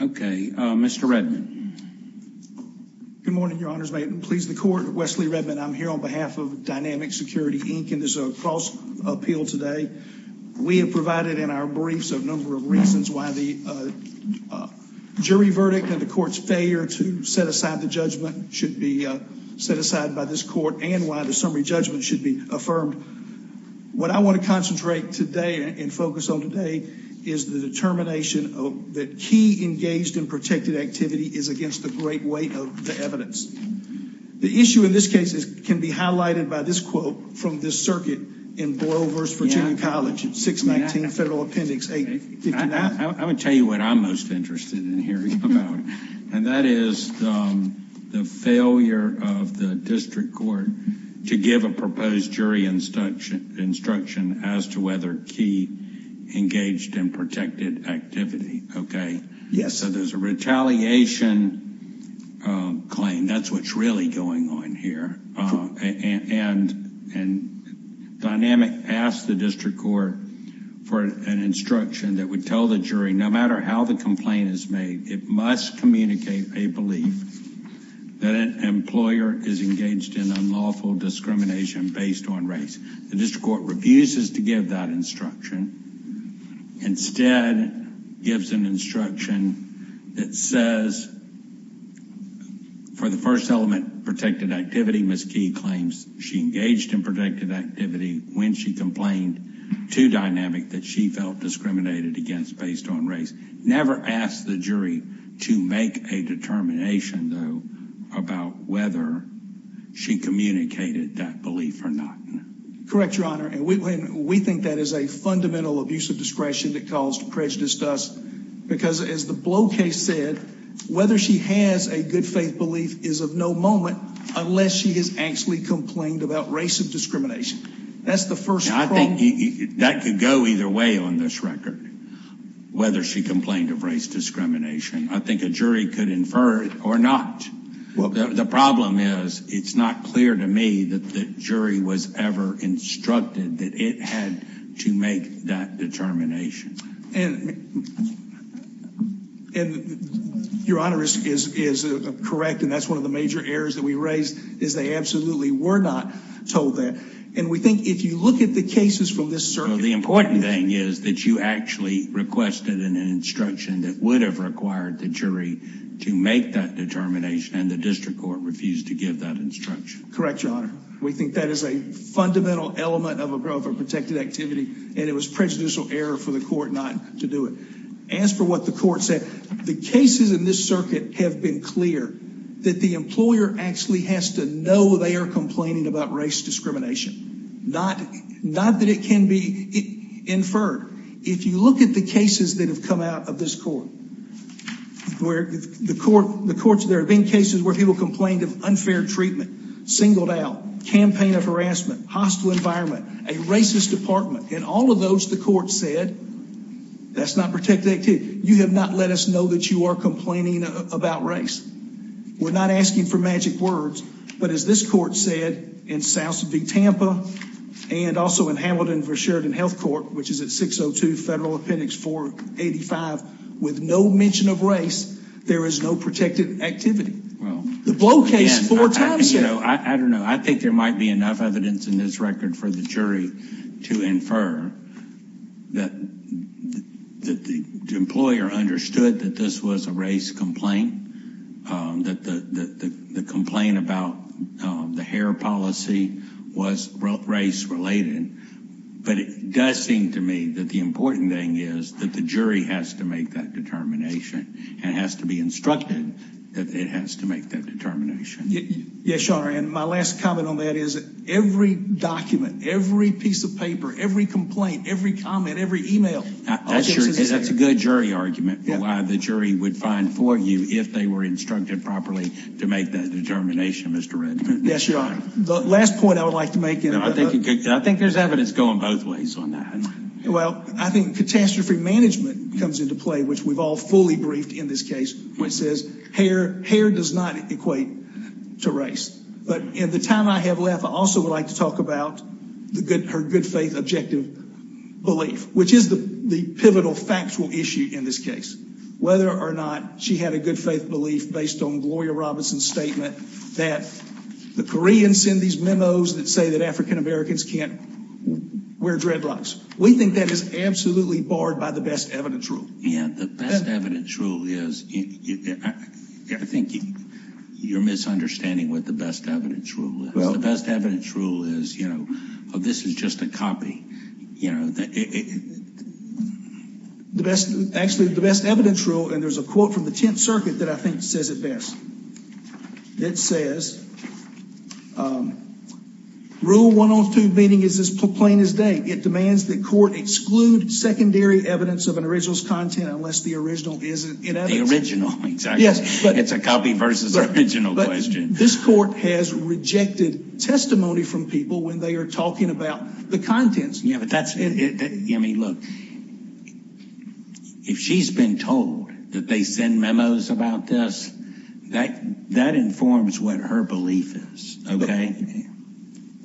Okay, Mr. Redman. Good morning, Your Honors. May it please the Court, Wesley Redman. I'm here on behalf of Dynamic Security, Inc., and there's a cross-appeal today. We have provided in our briefs a number of reasons why the jury verdict and the court's failure to set aside the judgment should be set aside by this court and why the summary judgment should be affirmed. What I want to concentrate today and focus on today is the determination that Key engaged in protected activity is against the great weight of the evidence. The issue in this case can be highlighted by this quote from this circuit in Boyle v. Virginia College, 619 Federal Appendix 859. I would tell you what I'm most interested in hearing about, and that is the failure of the district court to give a proposed jury instruction as to whether Key engaged in protected activity, okay? Yes. So there's a retaliation claim. That's what's really going on here, and Dynamic asked the district court for an instruction that would tell the jury, no matter how the complaint is made, it must on race. The district court refuses to give that instruction. Instead, it gives an instruction that says, for the first element, protected activity, Ms. Key claims she engaged in protected activity when she complained to Dynamic that she felt discriminated against based on race. Never asked the jury to make a determination, though, about whether she communicated that belief or not. Correct, Your Honor, and we think that is a fundamental abuse of discretion that caused prejudice to us because, as the Blow case said, whether she has a good faith belief is of no moment unless she has actually complained about race of discrimination. That's the first. I think that could go either way on this record, whether she complained of race discrimination. I think a jury could infer it or not. The problem is, it's not clear to me that the jury was ever instructed that it had to make that determination. Your Honor is correct, and that's one of the major errors that we raised, is they absolutely were not told that, and we think if you look at the cases from this circuit, the important thing is that you actually requested an instruction that would have required the jury to make that determination, and the district court refused to give that instruction. Correct, Your Honor. We think that is a fundamental element of a growth of protected activity, and it was prejudicial error for the court not to do it. As for what the court said, the cases in this circuit have been clear that the employer actually has to know they are complaining about race discrimination. Not that it can be inferred. If you look at the cases that have come out of this court, where the courts, there have been cases where people complained of unfair treatment, singled out, campaign of harassment, hostile environment, a racist department, and all of those the court said, that's not protected activity. You have not let us know that you are complaining about race. We're not asking for magic words, but as this court said in South V Tampa, and also in Hamilton for Sheridan Health Court, which is at 602 Federal Appendix 485, with no mention of race, there is no protected activity. The Blow case, four times. You know, I don't know, I think there might be enough evidence in this record for the jury to infer that the employer understood that this was a race complaint, that the complaint about the hair policy was race-related, but it does seem to me that the important thing is that the jury has to make that determination and has to be instructed that it has to make that determination. Yes, your honor, and my last comment on that is every document, every piece of paper, every complaint, every comment, every email. That's a good jury argument for why the jury would find for you if they were instructed properly to make that determination, Mr. Redmond. Yes, your honor. The last point I would like to make, and I think there's evidence going both ways on that. Well, I think catastrophe management comes into play, which we've all fully briefed in this case, which says hair does not equate to race, but in the time I have left, I also would like to talk about the good, her good faith objective belief, which is the pivotal factual issue in this case. Whether or not she had a good faith belief based on Gloria Robinson's statement that the Koreans send these memos that say that African-Americans can't wear dreadlocks. We think that is absolutely barred by the best evidence rule. Yeah, the best evidence rule is, I think you're misunderstanding what the best evidence rule is. Well, the best evidence rule is, you know, this is just a copy, you know. The best, actually the best evidence rule, and there's a quote from the Tenth Circuit that I think says it best. It says, rule 102 meeting is as plain as day. It demands that court exclude secondary evidence of an original's content unless the original is in evidence. The original, exactly. It's a copy versus original question. This court has rejected testimony from people when they are talking about the contents. Yeah, but that's, I mean, look, if she's been told that they send memos about this, that informs what her belief is, okay?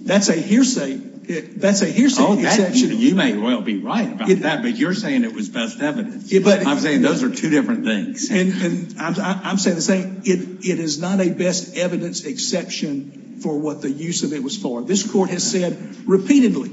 That's a hearsay, that's a hearsay exception. Oh, you may well be right about that, but you're saying it was best evidence. I'm saying those are two different things. And I'm saying, it is not a best evidence exception for what the use of it was for. This court has said repeatedly,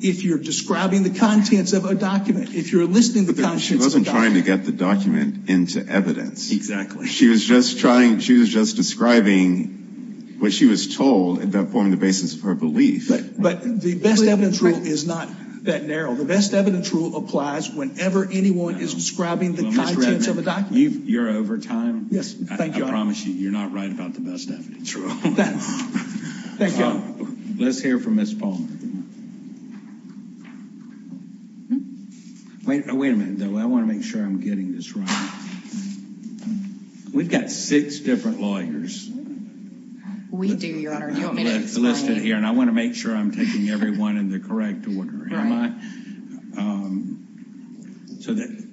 if you're describing the contents of a document, if you're listing the contents of a document. But she wasn't trying to get the document into evidence. Exactly. She was just trying, she was just describing what she was told and then forming the basis of her belief. But the best evidence rule is not that narrow. The best evidence rule applies whenever anyone is describing the contents of a document. Well, Mr. Edmund, you're over time. Yes, thank you. I promise you, you're not right about the best evidence rule. Thank you. Let's hear from Ms. Palmer. Wait a minute, though. I want to make sure I'm getting this right. We've got six different lawyers listed here, and I want to make sure I'm taking everyone in the correct order. So that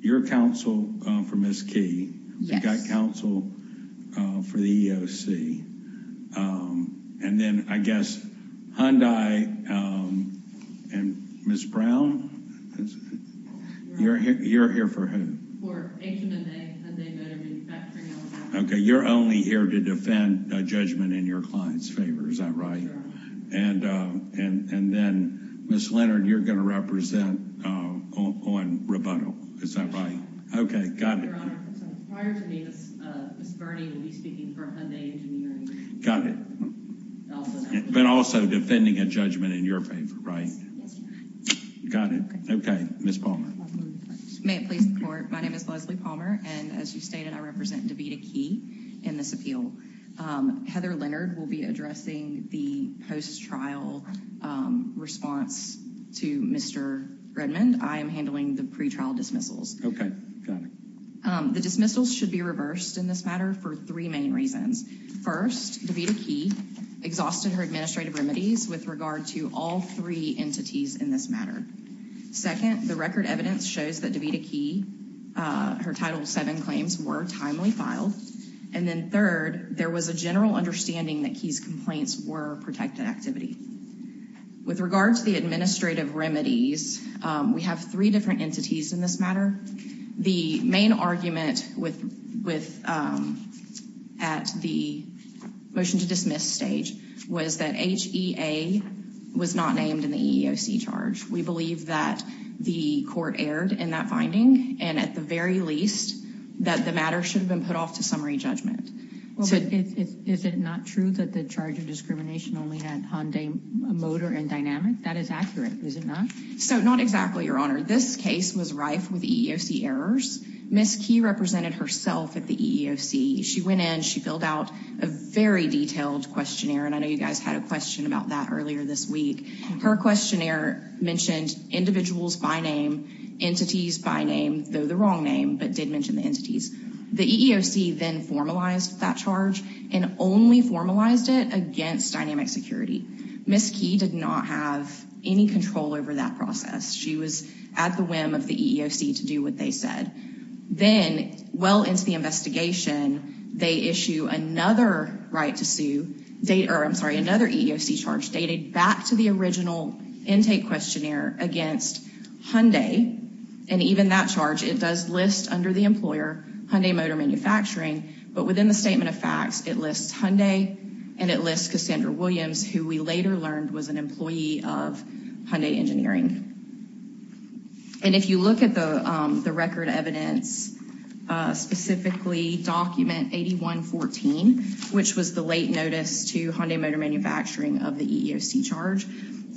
your counsel for Ms. Key, you've got counsel for the EEOC. And then, I guess, Hyundai and Ms. Brown, you're here for who? Okay, you're only here to defend a judgment in your client's favor. Is that right? And then, Ms. Leonard, you're going to represent on rebuttal. Is that right? Okay, got it. But also defending a judgment in your favor, right? Got it. Okay, Ms. Palmer. My name is Leslie Palmer, and as you stated, I represent Debita Key in this appeal. Heather Leonard will be addressing the post-trial response to Mr. Redmond. I am handling the pretrial dismissals. Okay, got it. The dismissals should be reversed in this matter for three main reasons. First, Debita Key exhausted her administrative remedies with regard to all three entities in this matter. Second, the record evidence shows that Debita Key, her Title VII claims were timely filed. And then third, there was a general understanding that Key's complaints were protected activity. With regard to the administrative remedies, we have three different entities in this matter. The main argument at the motion to dismiss stage was that HEA was not named in the EEOC charge. We believe that the court erred in that finding, and at the very least, that the matter should have been put off to summary judgment. Is it not true that the charge of discrimination only had Hyundai Motor and Dynamic? That is accurate, is it not? So not exactly, Your Honor. This case was rife with EEOC errors. Ms. Key represented herself at the EEOC. She went in, she filled out a very detailed questionnaire, and I know you guys had a question about that earlier this week. Her questionnaire mentioned individuals by name, entities by name, though the wrong name, but did mention the entities. The EEOC then formalized that charge and only formalized it against Dynamic Security. Ms. Key did not have any control over that process. She was at the whim of the EEOC to do what they said. Then, well into the investigation, they issue another right to sue, I'm sorry, another EEOC charge dated back to the original intake questionnaire against Hyundai, and even that charge, it does list under the employer Hyundai Motor Manufacturing, but within the statement of facts, it lists Hyundai and it lists Cassandra Williams, who we later learned was an employee of Hyundai Engineering. And if you look at the record evidence, specifically document 8114, which was the late notice to Hyundai Motor Manufacturing of the EEOC charge,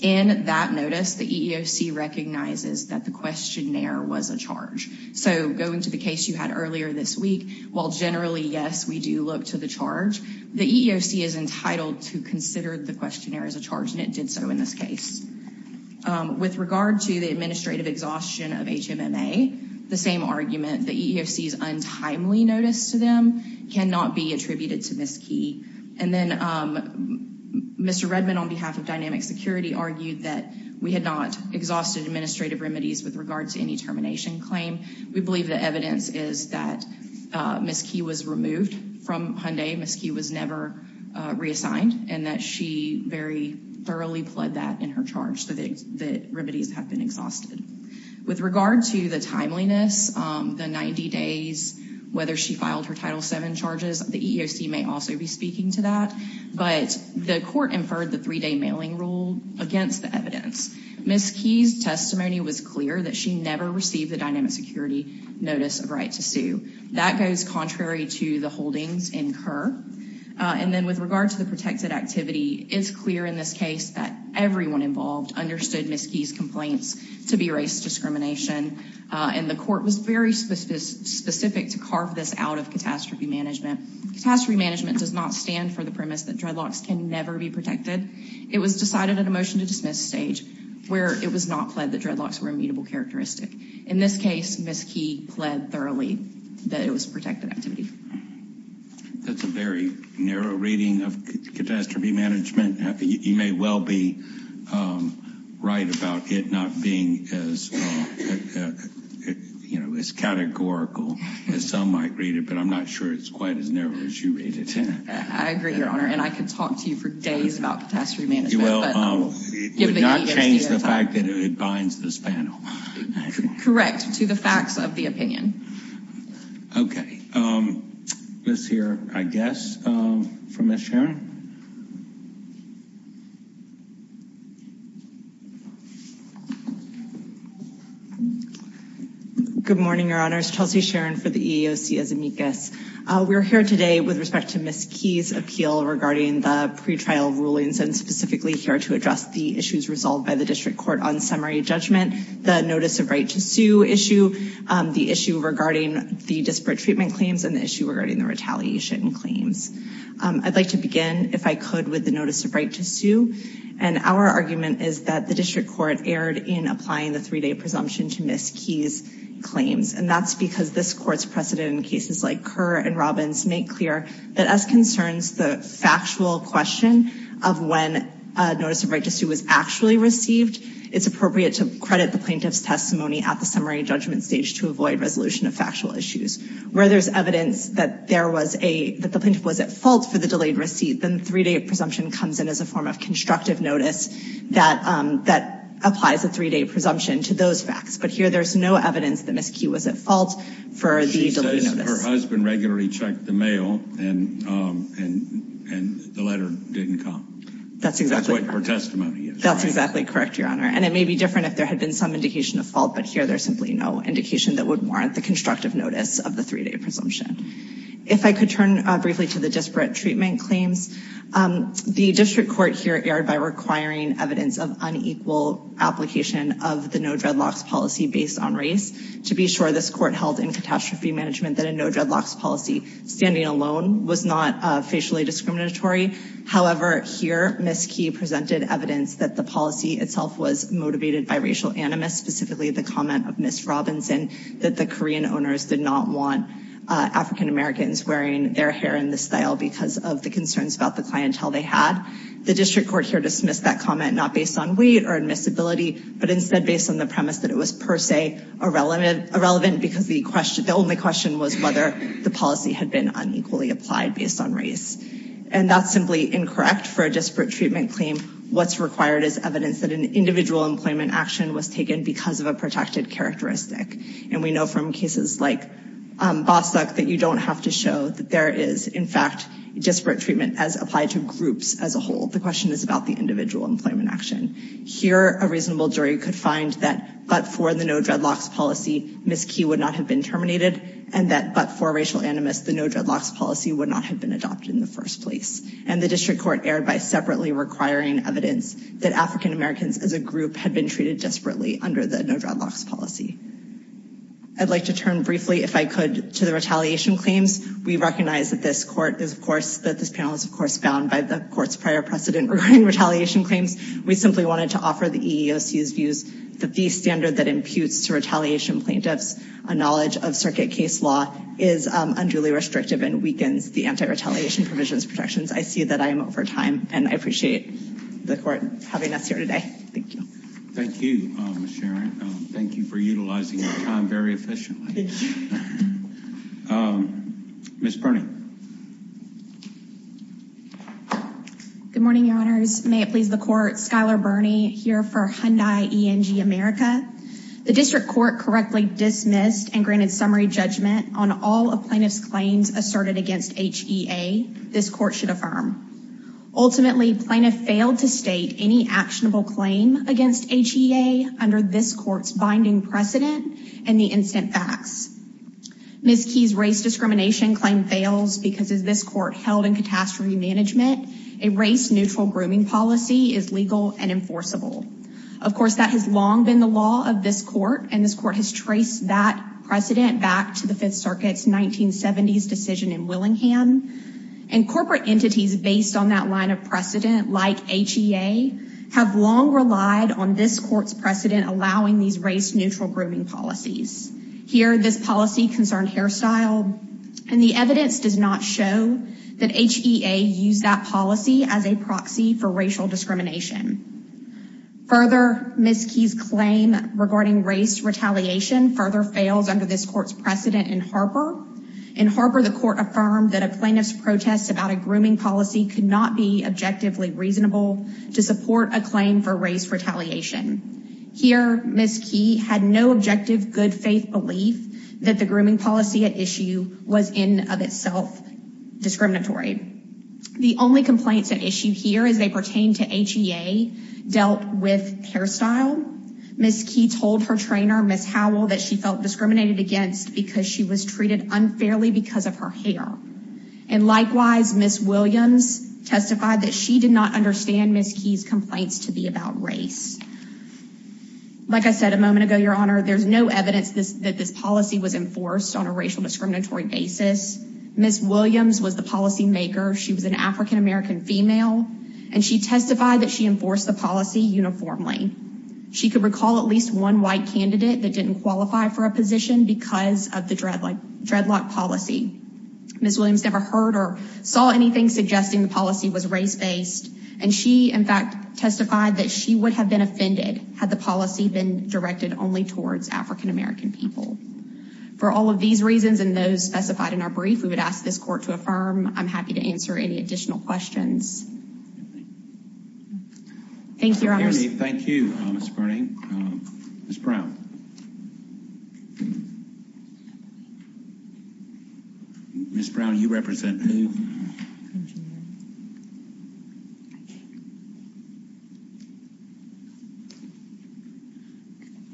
in that notice the EEOC recognizes that the questionnaire was a charge. So going to the case you had earlier this week, while generally, yes, we do look to the charge, the EEOC is entitled to consider the questionnaire as a charge, and it did so in this case. With regard to the administrative exhaustion of HMMA, the same argument, the EEOC's untimely notice to them cannot be attributed to Ms. Key. And then Mr. Redman, on behalf of Dynamic Security, argued that we had not exhausted administrative remedies with regard to any termination claim. We believe the evidence is that Ms. Key was removed from Hyundai, Ms. Key was never reassigned, and that she very thoroughly pled that in her charge, that remedies have been exhausted. With regard to the timeliness, the 90 days, whether she filed her Title VII charges, the EEOC may also be speaking to that, but the court inferred the three-day mailing rule against the evidence. Ms. Key's testimony was clear that she never received the Dynamic Security notice of right to sue. That goes contrary to the holdings incurred. And then with regard to the protected activity, it's clear in this case that everyone involved understood Ms. Key's complaints to be racist discrimination, and the court was very specific to carve this out of catastrophe management. Catastrophe management does not stand for the dreadlocks can never be protected. It was decided at a motion to dismiss stage where it was not pled that dreadlocks were a mutable characteristic. In this case, Ms. Key pled thoroughly that it was protected activity. That's a very narrow reading of catastrophe management. You may well be right about it not being as you know, as categorical as some might read it, but I'm not sure it's quite as narrow as you read it. I agree, Your Honor, and I could talk to you for days about catastrophe management. It would not change the fact that it binds this panel. Correct, to the facts of the opinion. Okay, let's hear, I guess, from Ms. Sharon. Good morning, Your Honor. I'm here today with respect to Ms. Key's appeal regarding the pretrial rulings and specifically here to address the issues resolved by the district court on summary judgment, the notice of right to sue issue, the issue regarding the disparate treatment claims, and the issue regarding the retaliation claims. I'd like to begin if I could with the notice of right to sue, and our argument is that the district court erred in applying the three-day presumption to Ms. Key's claims, and that's because this court's precedent in cases like Kerr and Robbins make clear that as concerns the factual question of when notice of right to sue was actually received, it's appropriate to credit the plaintiff's testimony at the summary judgment stage to avoid resolution of factual issues. Where there's evidence that the plaintiff was at fault for the delayed receipt, then the three-day presumption comes in as a form of constructive notice that applies a three-day presumption to those facts, but here there's no evidence that Ms. Key was at fault for the delayed notice. She says her husband regularly checked the mail and the letter didn't come. That's exactly what her testimony is. That's exactly correct, Your Honor, and it may be different if there had been some indication of fault, but here there's simply no indication that would warrant the constructive notice of the three-day presumption. If I could turn briefly to the disparate treatment claims, the district court here erred by requiring evidence of unequal application of the no-dreadlocks policy based on race to be sure this court held in catastrophe management that a no-dreadlocks policy standing alone was not facially discriminatory. However, here Ms. Key presented evidence that the policy itself was motivated by racial animus, specifically the comment of Ms. Robinson that the Korean owners did not want African-Americans wearing their hair in this style because of the concerns about the clientele they had. The district court here dismissed that comment not based on weight or admissibility, but instead based on the premise that it was per se irrelevant because the question, the only question was whether the policy had been unequally applied based on race. And that's simply incorrect for a disparate treatment claim. What's required is evidence that an individual employment action was taken because of a protected characteristic, and we know from cases like Bostock that you don't have to show that there is in fact disparate treatment as applied to groups as a whole. The question is about the individual employment action. Here a reasonable jury could find that but for the no-dreadlocks policy, Ms. Key would not have been terminated, and that but for racial animus, the no-dreadlocks policy would not have been adopted in the first place. And the district court erred by separately requiring evidence that African-Americans as a group had been treated desperately under the no-dreadlocks policy. I'd like to turn briefly, if I could, to the retaliation claims. We recognize that this court is of course, that this panel is of course bound by the court's prior precedent regarding retaliation claims. We simply wanted to offer the EEOC's views that the standard that imputes to retaliation plaintiffs a knowledge of circuit case law is unduly restrictive and weakens the anti-retaliation provisions protections. I see that I am over time and I appreciate the court having us here today. Thank you. Thank you. Thank you for utilizing your time very efficiently. Ms. Burning. Good morning, Your Honors. May it please the court, Skylar Burnie here for Hyundai ENG America. The district court correctly dismissed and granted summary judgment on all of plaintiffs claims asserted against HEA this court should affirm. Ultimately, plaintiff failed to state any actionable claim against HEA under this court's binding precedent and the instant facts. Ms. Key's race discrimination claim fails because as this court held in catastrophe management, a race-neutral grooming policy is legal and enforceable. Of course, that has long been the law of this court and this court has traced that precedent back to the Fifth Circuit's 1970s decision in Willingham and corporate entities based on that line of precedent like HEA have long relied on this court's precedent allowing these race-neutral grooming policies. Here, this policy concerned hairstyle and the evidence does not show that HEA used that policy as a proxy for racial discrimination. Further, Ms. Key's claim regarding race retaliation further fails under this court's precedent in Harper. In Harper, the court affirmed that a plaintiff's protest about a grooming policy could not be objectively reasonable to support a claim for race retaliation. Here, Ms. Key had no objective good faith belief that the grooming policy at issue was in of itself discriminatory. The only complaints at issue here as they pertain to HEA dealt with hairstyle. Ms. Key told her trainer Ms. Howell that she felt discriminated against because she was treated unfairly because of her hair. And likewise, Ms. Williams testified that she did not understand Ms. Key's complaints to be about race. Like I said a moment ago, Your there's no evidence that this policy was enforced on a racial discriminatory basis. Ms. Williams was the policymaker. She was an African-American female and she testified that she enforced the policy uniformly. She could recall at least one white candidate that didn't qualify for a position because of the dreadlock policy. Ms. Williams never heard or saw anything suggesting the policy was race-based and she in fact testified that she would have been offended had the policy been directed only towards African-American people. For all of these reasons and those specified in our brief, we would ask this court to affirm. I'm happy to answer any additional questions. Thank you. Thank you, Mr. Burning. Ms. Brown. Ms. Brown, you represent who?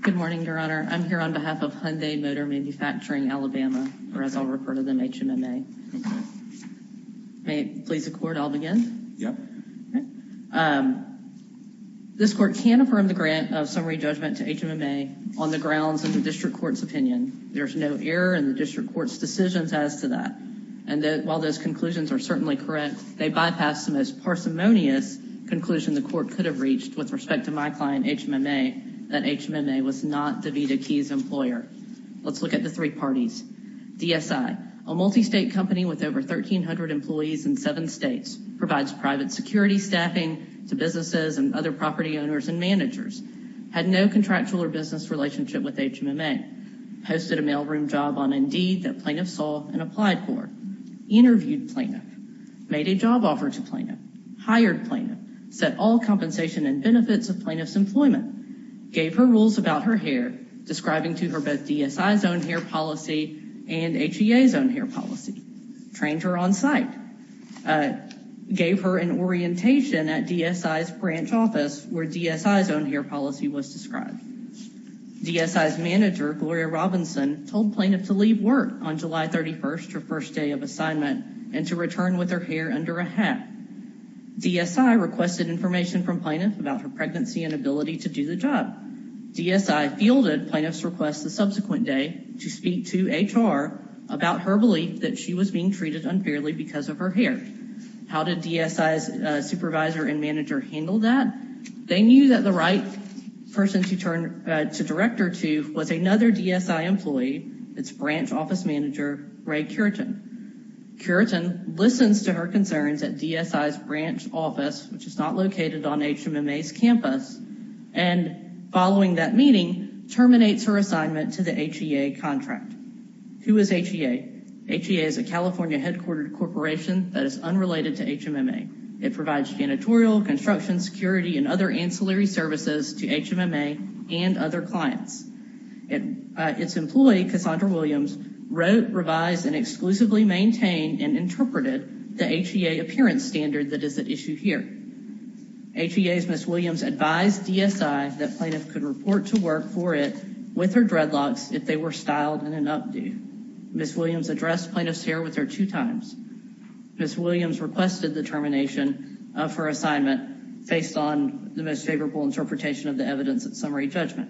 Good morning, Your Honor. I'm here on behalf of Hyundai Motor Manufacturing Alabama or as I'll refer to them, HMMA. May it please the court I'll begin? Yep. This court can affirm the grant of summary judgment to HMMA on the grounds of the district court's opinion. There's no error in the district court's decisions as to that. And while those conclusions are certainly correct, they bypassed the most parsimonious conclusion the court could have reached with respect to my client HMMA, that HMMA was not the Vida Keys employer. Let's look at the three parties. DSI, a multi-state company with over 1,300 employees in seven states, provides private security staffing to businesses and other property owners and managers, had no contractual or business relationship with HMMA, posted a mailroom job on Indeed that plaintiff saw and applied for, interviewed plaintiff, made a job offer to plaintiff, hired plaintiff, set all compensation and benefits of plaintiff's employment, gave her rules about her hair, describing to her both DSI's own hair policy and HEA's own hair policy, trained her on site, gave her an orientation at DSI's branch office, where DSI's own hair policy was described. DSI's manager, Gloria Robinson, told plaintiff to leave work on July 31st, her first day of assignment, and to return with her hair under a hat. DSI requested information from plaintiff about her pregnancy and ability to do the job. DSI fielded plaintiff's request the subsequent day to speak to HR about her belief that she was being treated unfairly because of her hair. How did DSI's supervisor and manager handle that? They knew that the right person to direct her to was another DSI employee, its branch office manager, Ray Curitan. Curitan listens to her concerns at DSI's branch office, which is not located on HMMA's campus, and following that meeting, terminates her assignment to the HEA contract. Who is HEA? HEA is a California headquartered corporation that is unrelated to HMMA. It provides janitorial, construction, security, and other ancillary services to HMMA and other clients. Its employee, Cassandra Williams, wrote, revised, and exclusively maintained and interpreted the HEA appearance standard that is at issue here. HEA's Ms. Williams advised DSI that plaintiff could report to work for it with her dreadlocks if they were styled in an updo. Ms. Williams addressed plaintiff's hair with her two times. Ms. Williams requested the termination of her assignment based on the most favorable interpretation of the evidence at summary judgment.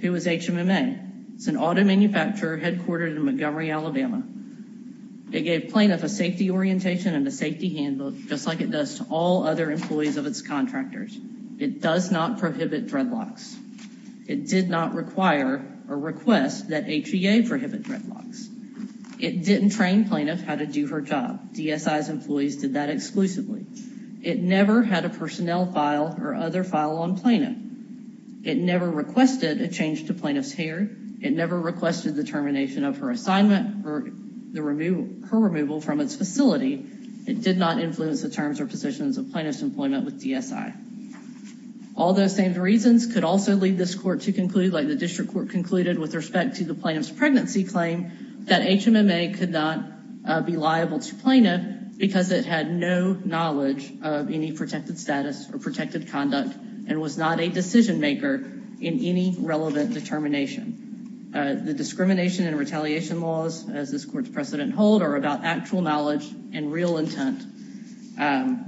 Who is HMMA? It's an auto manufacturer headquartered in Montgomery, Alabama. It gave plaintiff a safety orientation and a safety handbook, just like it does to all other employees of its contractors. It does not prohibit dreadlocks. It did not require or request that HEA prohibit dreadlocks. It didn't train plaintiff how to do her job. DSI's employees did that exclusively. It never had a personnel file or other file on plaintiff. It never requested a change to plaintiff's hair. It never requested the termination of her assignment or the removal, her removal from its facility. It did not influence the terms or positions of plaintiff's employment with DSI. All those same reasons could also lead this court to conclude, like the district court concluded with respect to the plaintiff's pregnancy claim, that HMMA could not be liable to plaintiff because it had no knowledge of any protected status or protected conduct and was not a decision maker in any relevant determination. The discrimination and retaliation laws, as this court's precedent hold, are about actual knowledge and real intent. And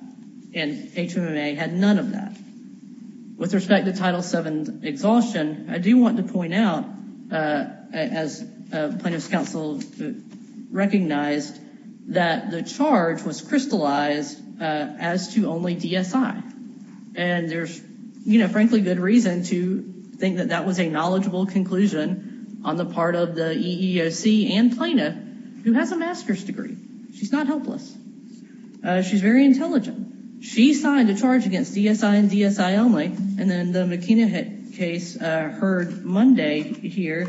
HMMA had none of that. With respect to Title VII exhaustion, I do want to point out, as plaintiff's counsel recognized, that the charge was crystallized as to only DSI. And there's, you know, frankly, good reason to think that that was a knowledgeable conclusion on the part of the EEOC and plaintiff, who has a master's degree. She's not helpless. She's very intelligent. She signed a charge against DSI and DSI only. And then the McKenna case heard Monday here.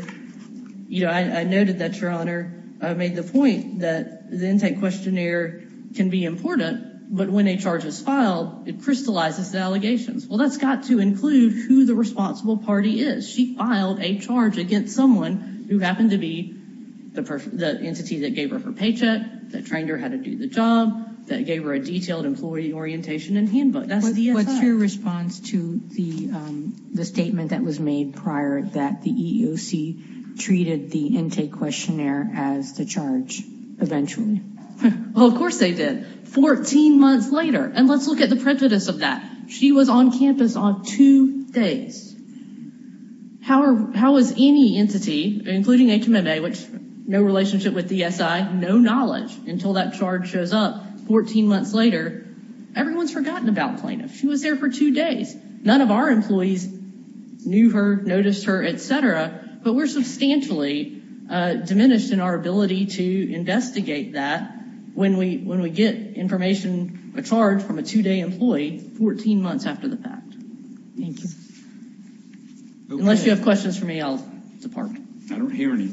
You know, I noted that your Honor made the point that the intake questionnaire can be important, but when a charge is filed, it crystallizes the allegations. Well, that's got to include who the responsible party is. She filed a charge against someone who happened to be the entity that gave her her paycheck, that trained her how to do the job, that gave her a detailed employee orientation and handbook. That's DSI. What's your response to the statement that was made prior that the EEOC treated the intake questionnaire as the charge eventually? Well, of course they did, 14 months later. And let's look at the prejudice of that. She was on campus on two days. How is any entity, including HMMA, which no relationship with DSI, no knowledge until that charge shows up 14 months later, everyone's forgotten about plaintiff. She was there for two days. None of our employees knew her, noticed her, etc. But we're substantially diminished in our ability to investigate that when we when we get information, a charge from a two-day employee 14 months after the fact. Thank you. Unless you have questions for me, I'll depart. I don't hear any.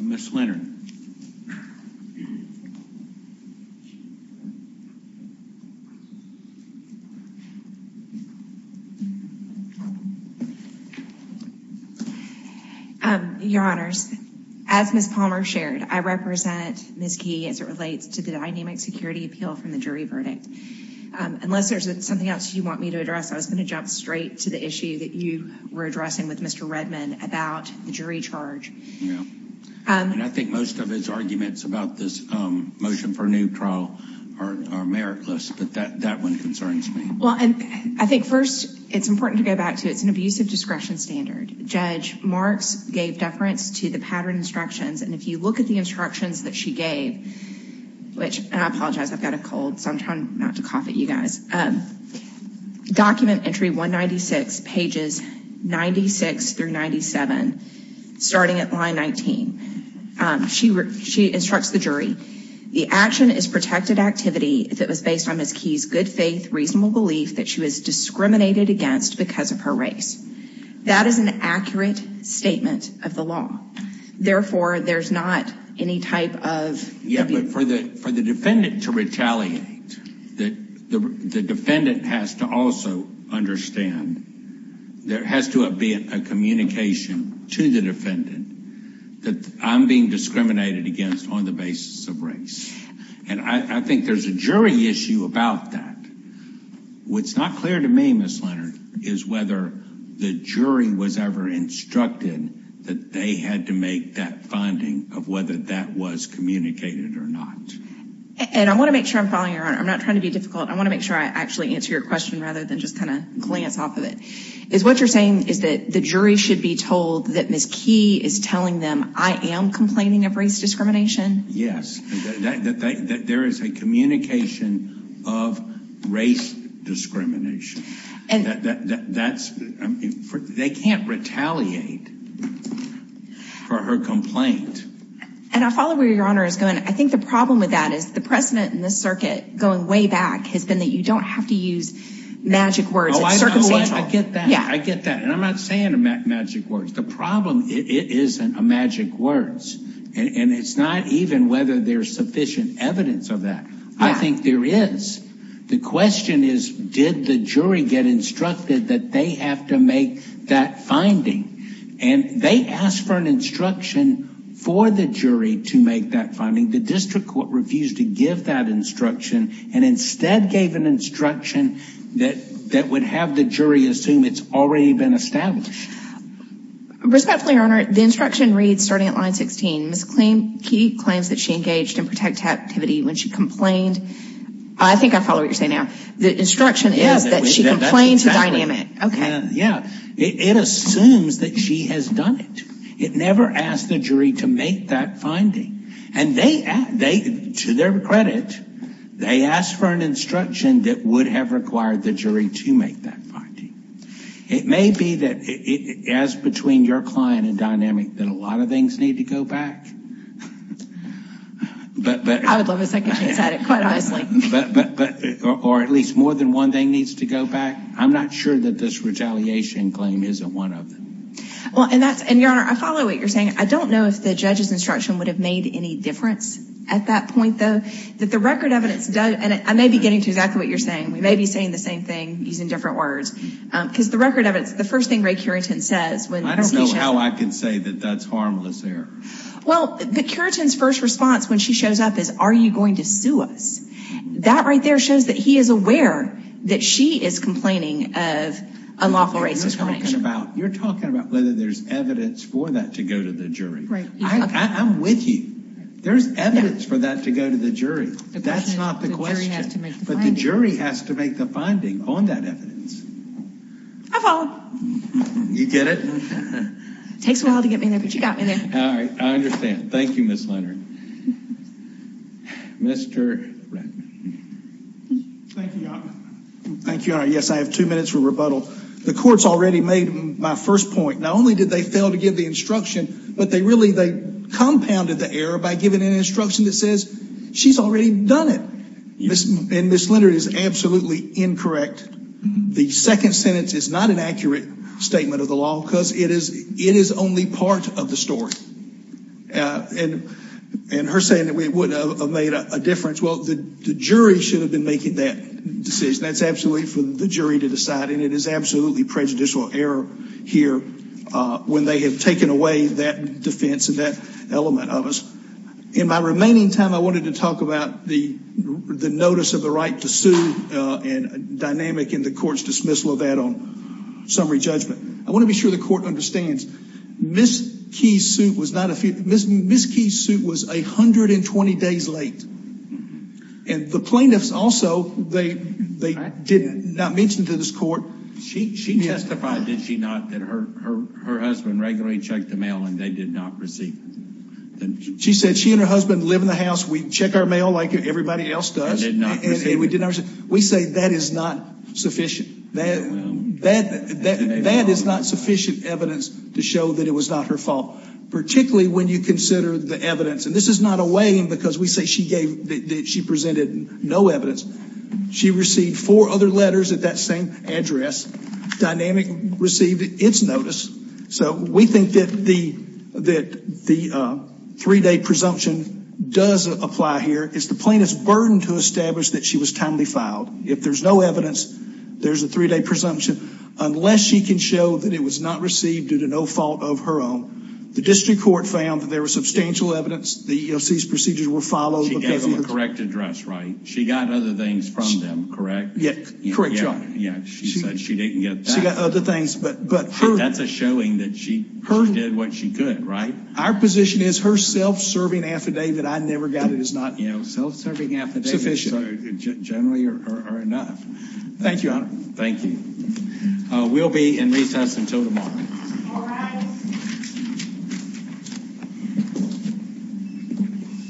Ms. Lennon. Your Honors, as Ms. Palmer shared, I represent Ms. Key as it relates to the from the jury verdict. Unless there's something else you want me to address, I was going to jump straight to the issue that you were addressing with Mr. Redman about the jury charge. I think most of his arguments about this motion for neutral are meritless, but that one concerns me. Well, I think first it's important to go back to it's an abusive discretion standard. Judge Marks gave deference to the pattern instructions, and if you look at the instructions that she gave, which I apologize, I've got a cold, so I'm trying not to cough at you guys. Document entry 196 pages 96 through 97, starting at line 19. She instructs the jury, the action is protected activity that was based on Ms. Key's good faith, reasonable belief that she was discriminated against because of her race. That is an accurate statement of the law. Therefore, there's not any type of... Yeah, but for the defendant to retaliate, the defendant has to also understand there has to have been a communication to the defendant that I'm being discriminated against on the basis of race, and I think there's a jury issue about that. What's not clear to me, Ms. Leonard, is whether the jury was ever instructed that they had to make that finding of whether that was communicated or not. And I want to make sure I'm following your honor. I'm not trying to be difficult. I want to make sure I actually answer your question rather than just kind of glance off of it. Is what you're saying is that the jury should be told that Ms. Key is telling them I am complaining of race discrimination? Yes, that there is a communication of race discrimination. And that's... They can't retaliate for her complaint. And I'll follow where your honor is going. I think the problem with that is the precedent in this circuit going way back has been that you don't have to use magic words. It's circumstantial. I get that. I get that. And I'm not saying magic words. The problem, it isn't a magic words. And it's not even whether there's sufficient evidence of that. I think there is. The question is, did the jury get instructed that they have to make that finding? And they asked for an instruction for the jury to make that finding. The district court refused to give that instruction and instead gave an instruction that that would have the jury assume it's already been established. Respectfully, your honor, the instruction reads, starting at line 16, Ms. Key claims that she engaged in protect activity when she complained. I think I follow what you're saying now. The instruction is that she complained to Dynamic. Okay. Yeah. It assumes that she has done it. It never asked the jury to make that finding. And they, to their credit, they asked for an instruction that would have required the jury to make that finding. It may be that it, as between your client and Dynamic, that a lot of things need to go back. I would love a second chance at it, quite honestly. Or at least more than one thing needs to go back. I'm not sure that this retaliation claim isn't one of them. Well, and that's, and your honor, I follow what you're saying. I don't know if the judge's instruction would have made any difference at that point, though. That the record evidence does, and I may be getting to exactly what you're saying. We may be saying the same thing using different words. Because the record evidence, the first thing Ray Currington says when... I don't know how I can say that that's harmless there. Well, the Currington's first response when she shows up is, are you going to sue us? That right there shows that he is aware that she is complaining of unlawful racist claim. You're talking about whether there's evidence for that to go to the jury. I'm with you. There's evidence for that to go to the jury. That's not the question. But the jury has to make the finding on that evidence. I follow. You get it. It takes a while to get me there, but you got me there. I understand. Thank you, Ms. Leonard. Mr. Ratner. Thank you, your honor. Yes, I have two minutes for rebuttal. The court's already made my first point. Not only did they fail to give the instruction, but they really, they compounded the error by giving an instruction that says she's already done it. And Ms. Leonard is absolutely incorrect. The second sentence is not an accurate statement of the law because it is it is only part of the story. And her saying that we would have made a difference. Well, the jury should have been making that decision. That's absolutely for the jury to decide, and it is absolutely prejudicial error here when they have taken away that defense of that element of us. In my remaining time, I wanted to talk about the the notice of the right to sue and dynamic in the court's dismissal of that on summary judgment. I want to be sure the court understands Ms. Keyes' suit was not a few, Ms. Keyes' suit was a hundred and twenty days late. And the plaintiffs also, they did not mention to this court. She testified, did she not, that her husband regularly checked the mail and they did not receive it. She said she and her husband live in the house. We check our mail like everybody else does. We say that is not sufficient. That is not sufficient evidence to show that it was not her fault, particularly when you consider the evidence. And this is not a weighing because we say she gave, that she presented no evidence. She received four other letters at that same address. Dynamic received its notice. So we think that the three-day presumption does apply here. It's the plaintiff's burden to establish that she was timely filed. If there's no evidence, there's a three-day presumption. Unless she can show that it was not received due to no fault of her own. The district court found that there was substantial evidence. The EEOC's procedures were followed. She gave them a correct address, right? She got other things from them, correct? Yeah, correct, your honor. She said she didn't get that. She got what she could, right? Our position is her self-serving affidavit, I never got it, is not, you know, self-serving affidavits are generally enough. Thank you, your honor. Thank you. We'll be in recess until tomorrow.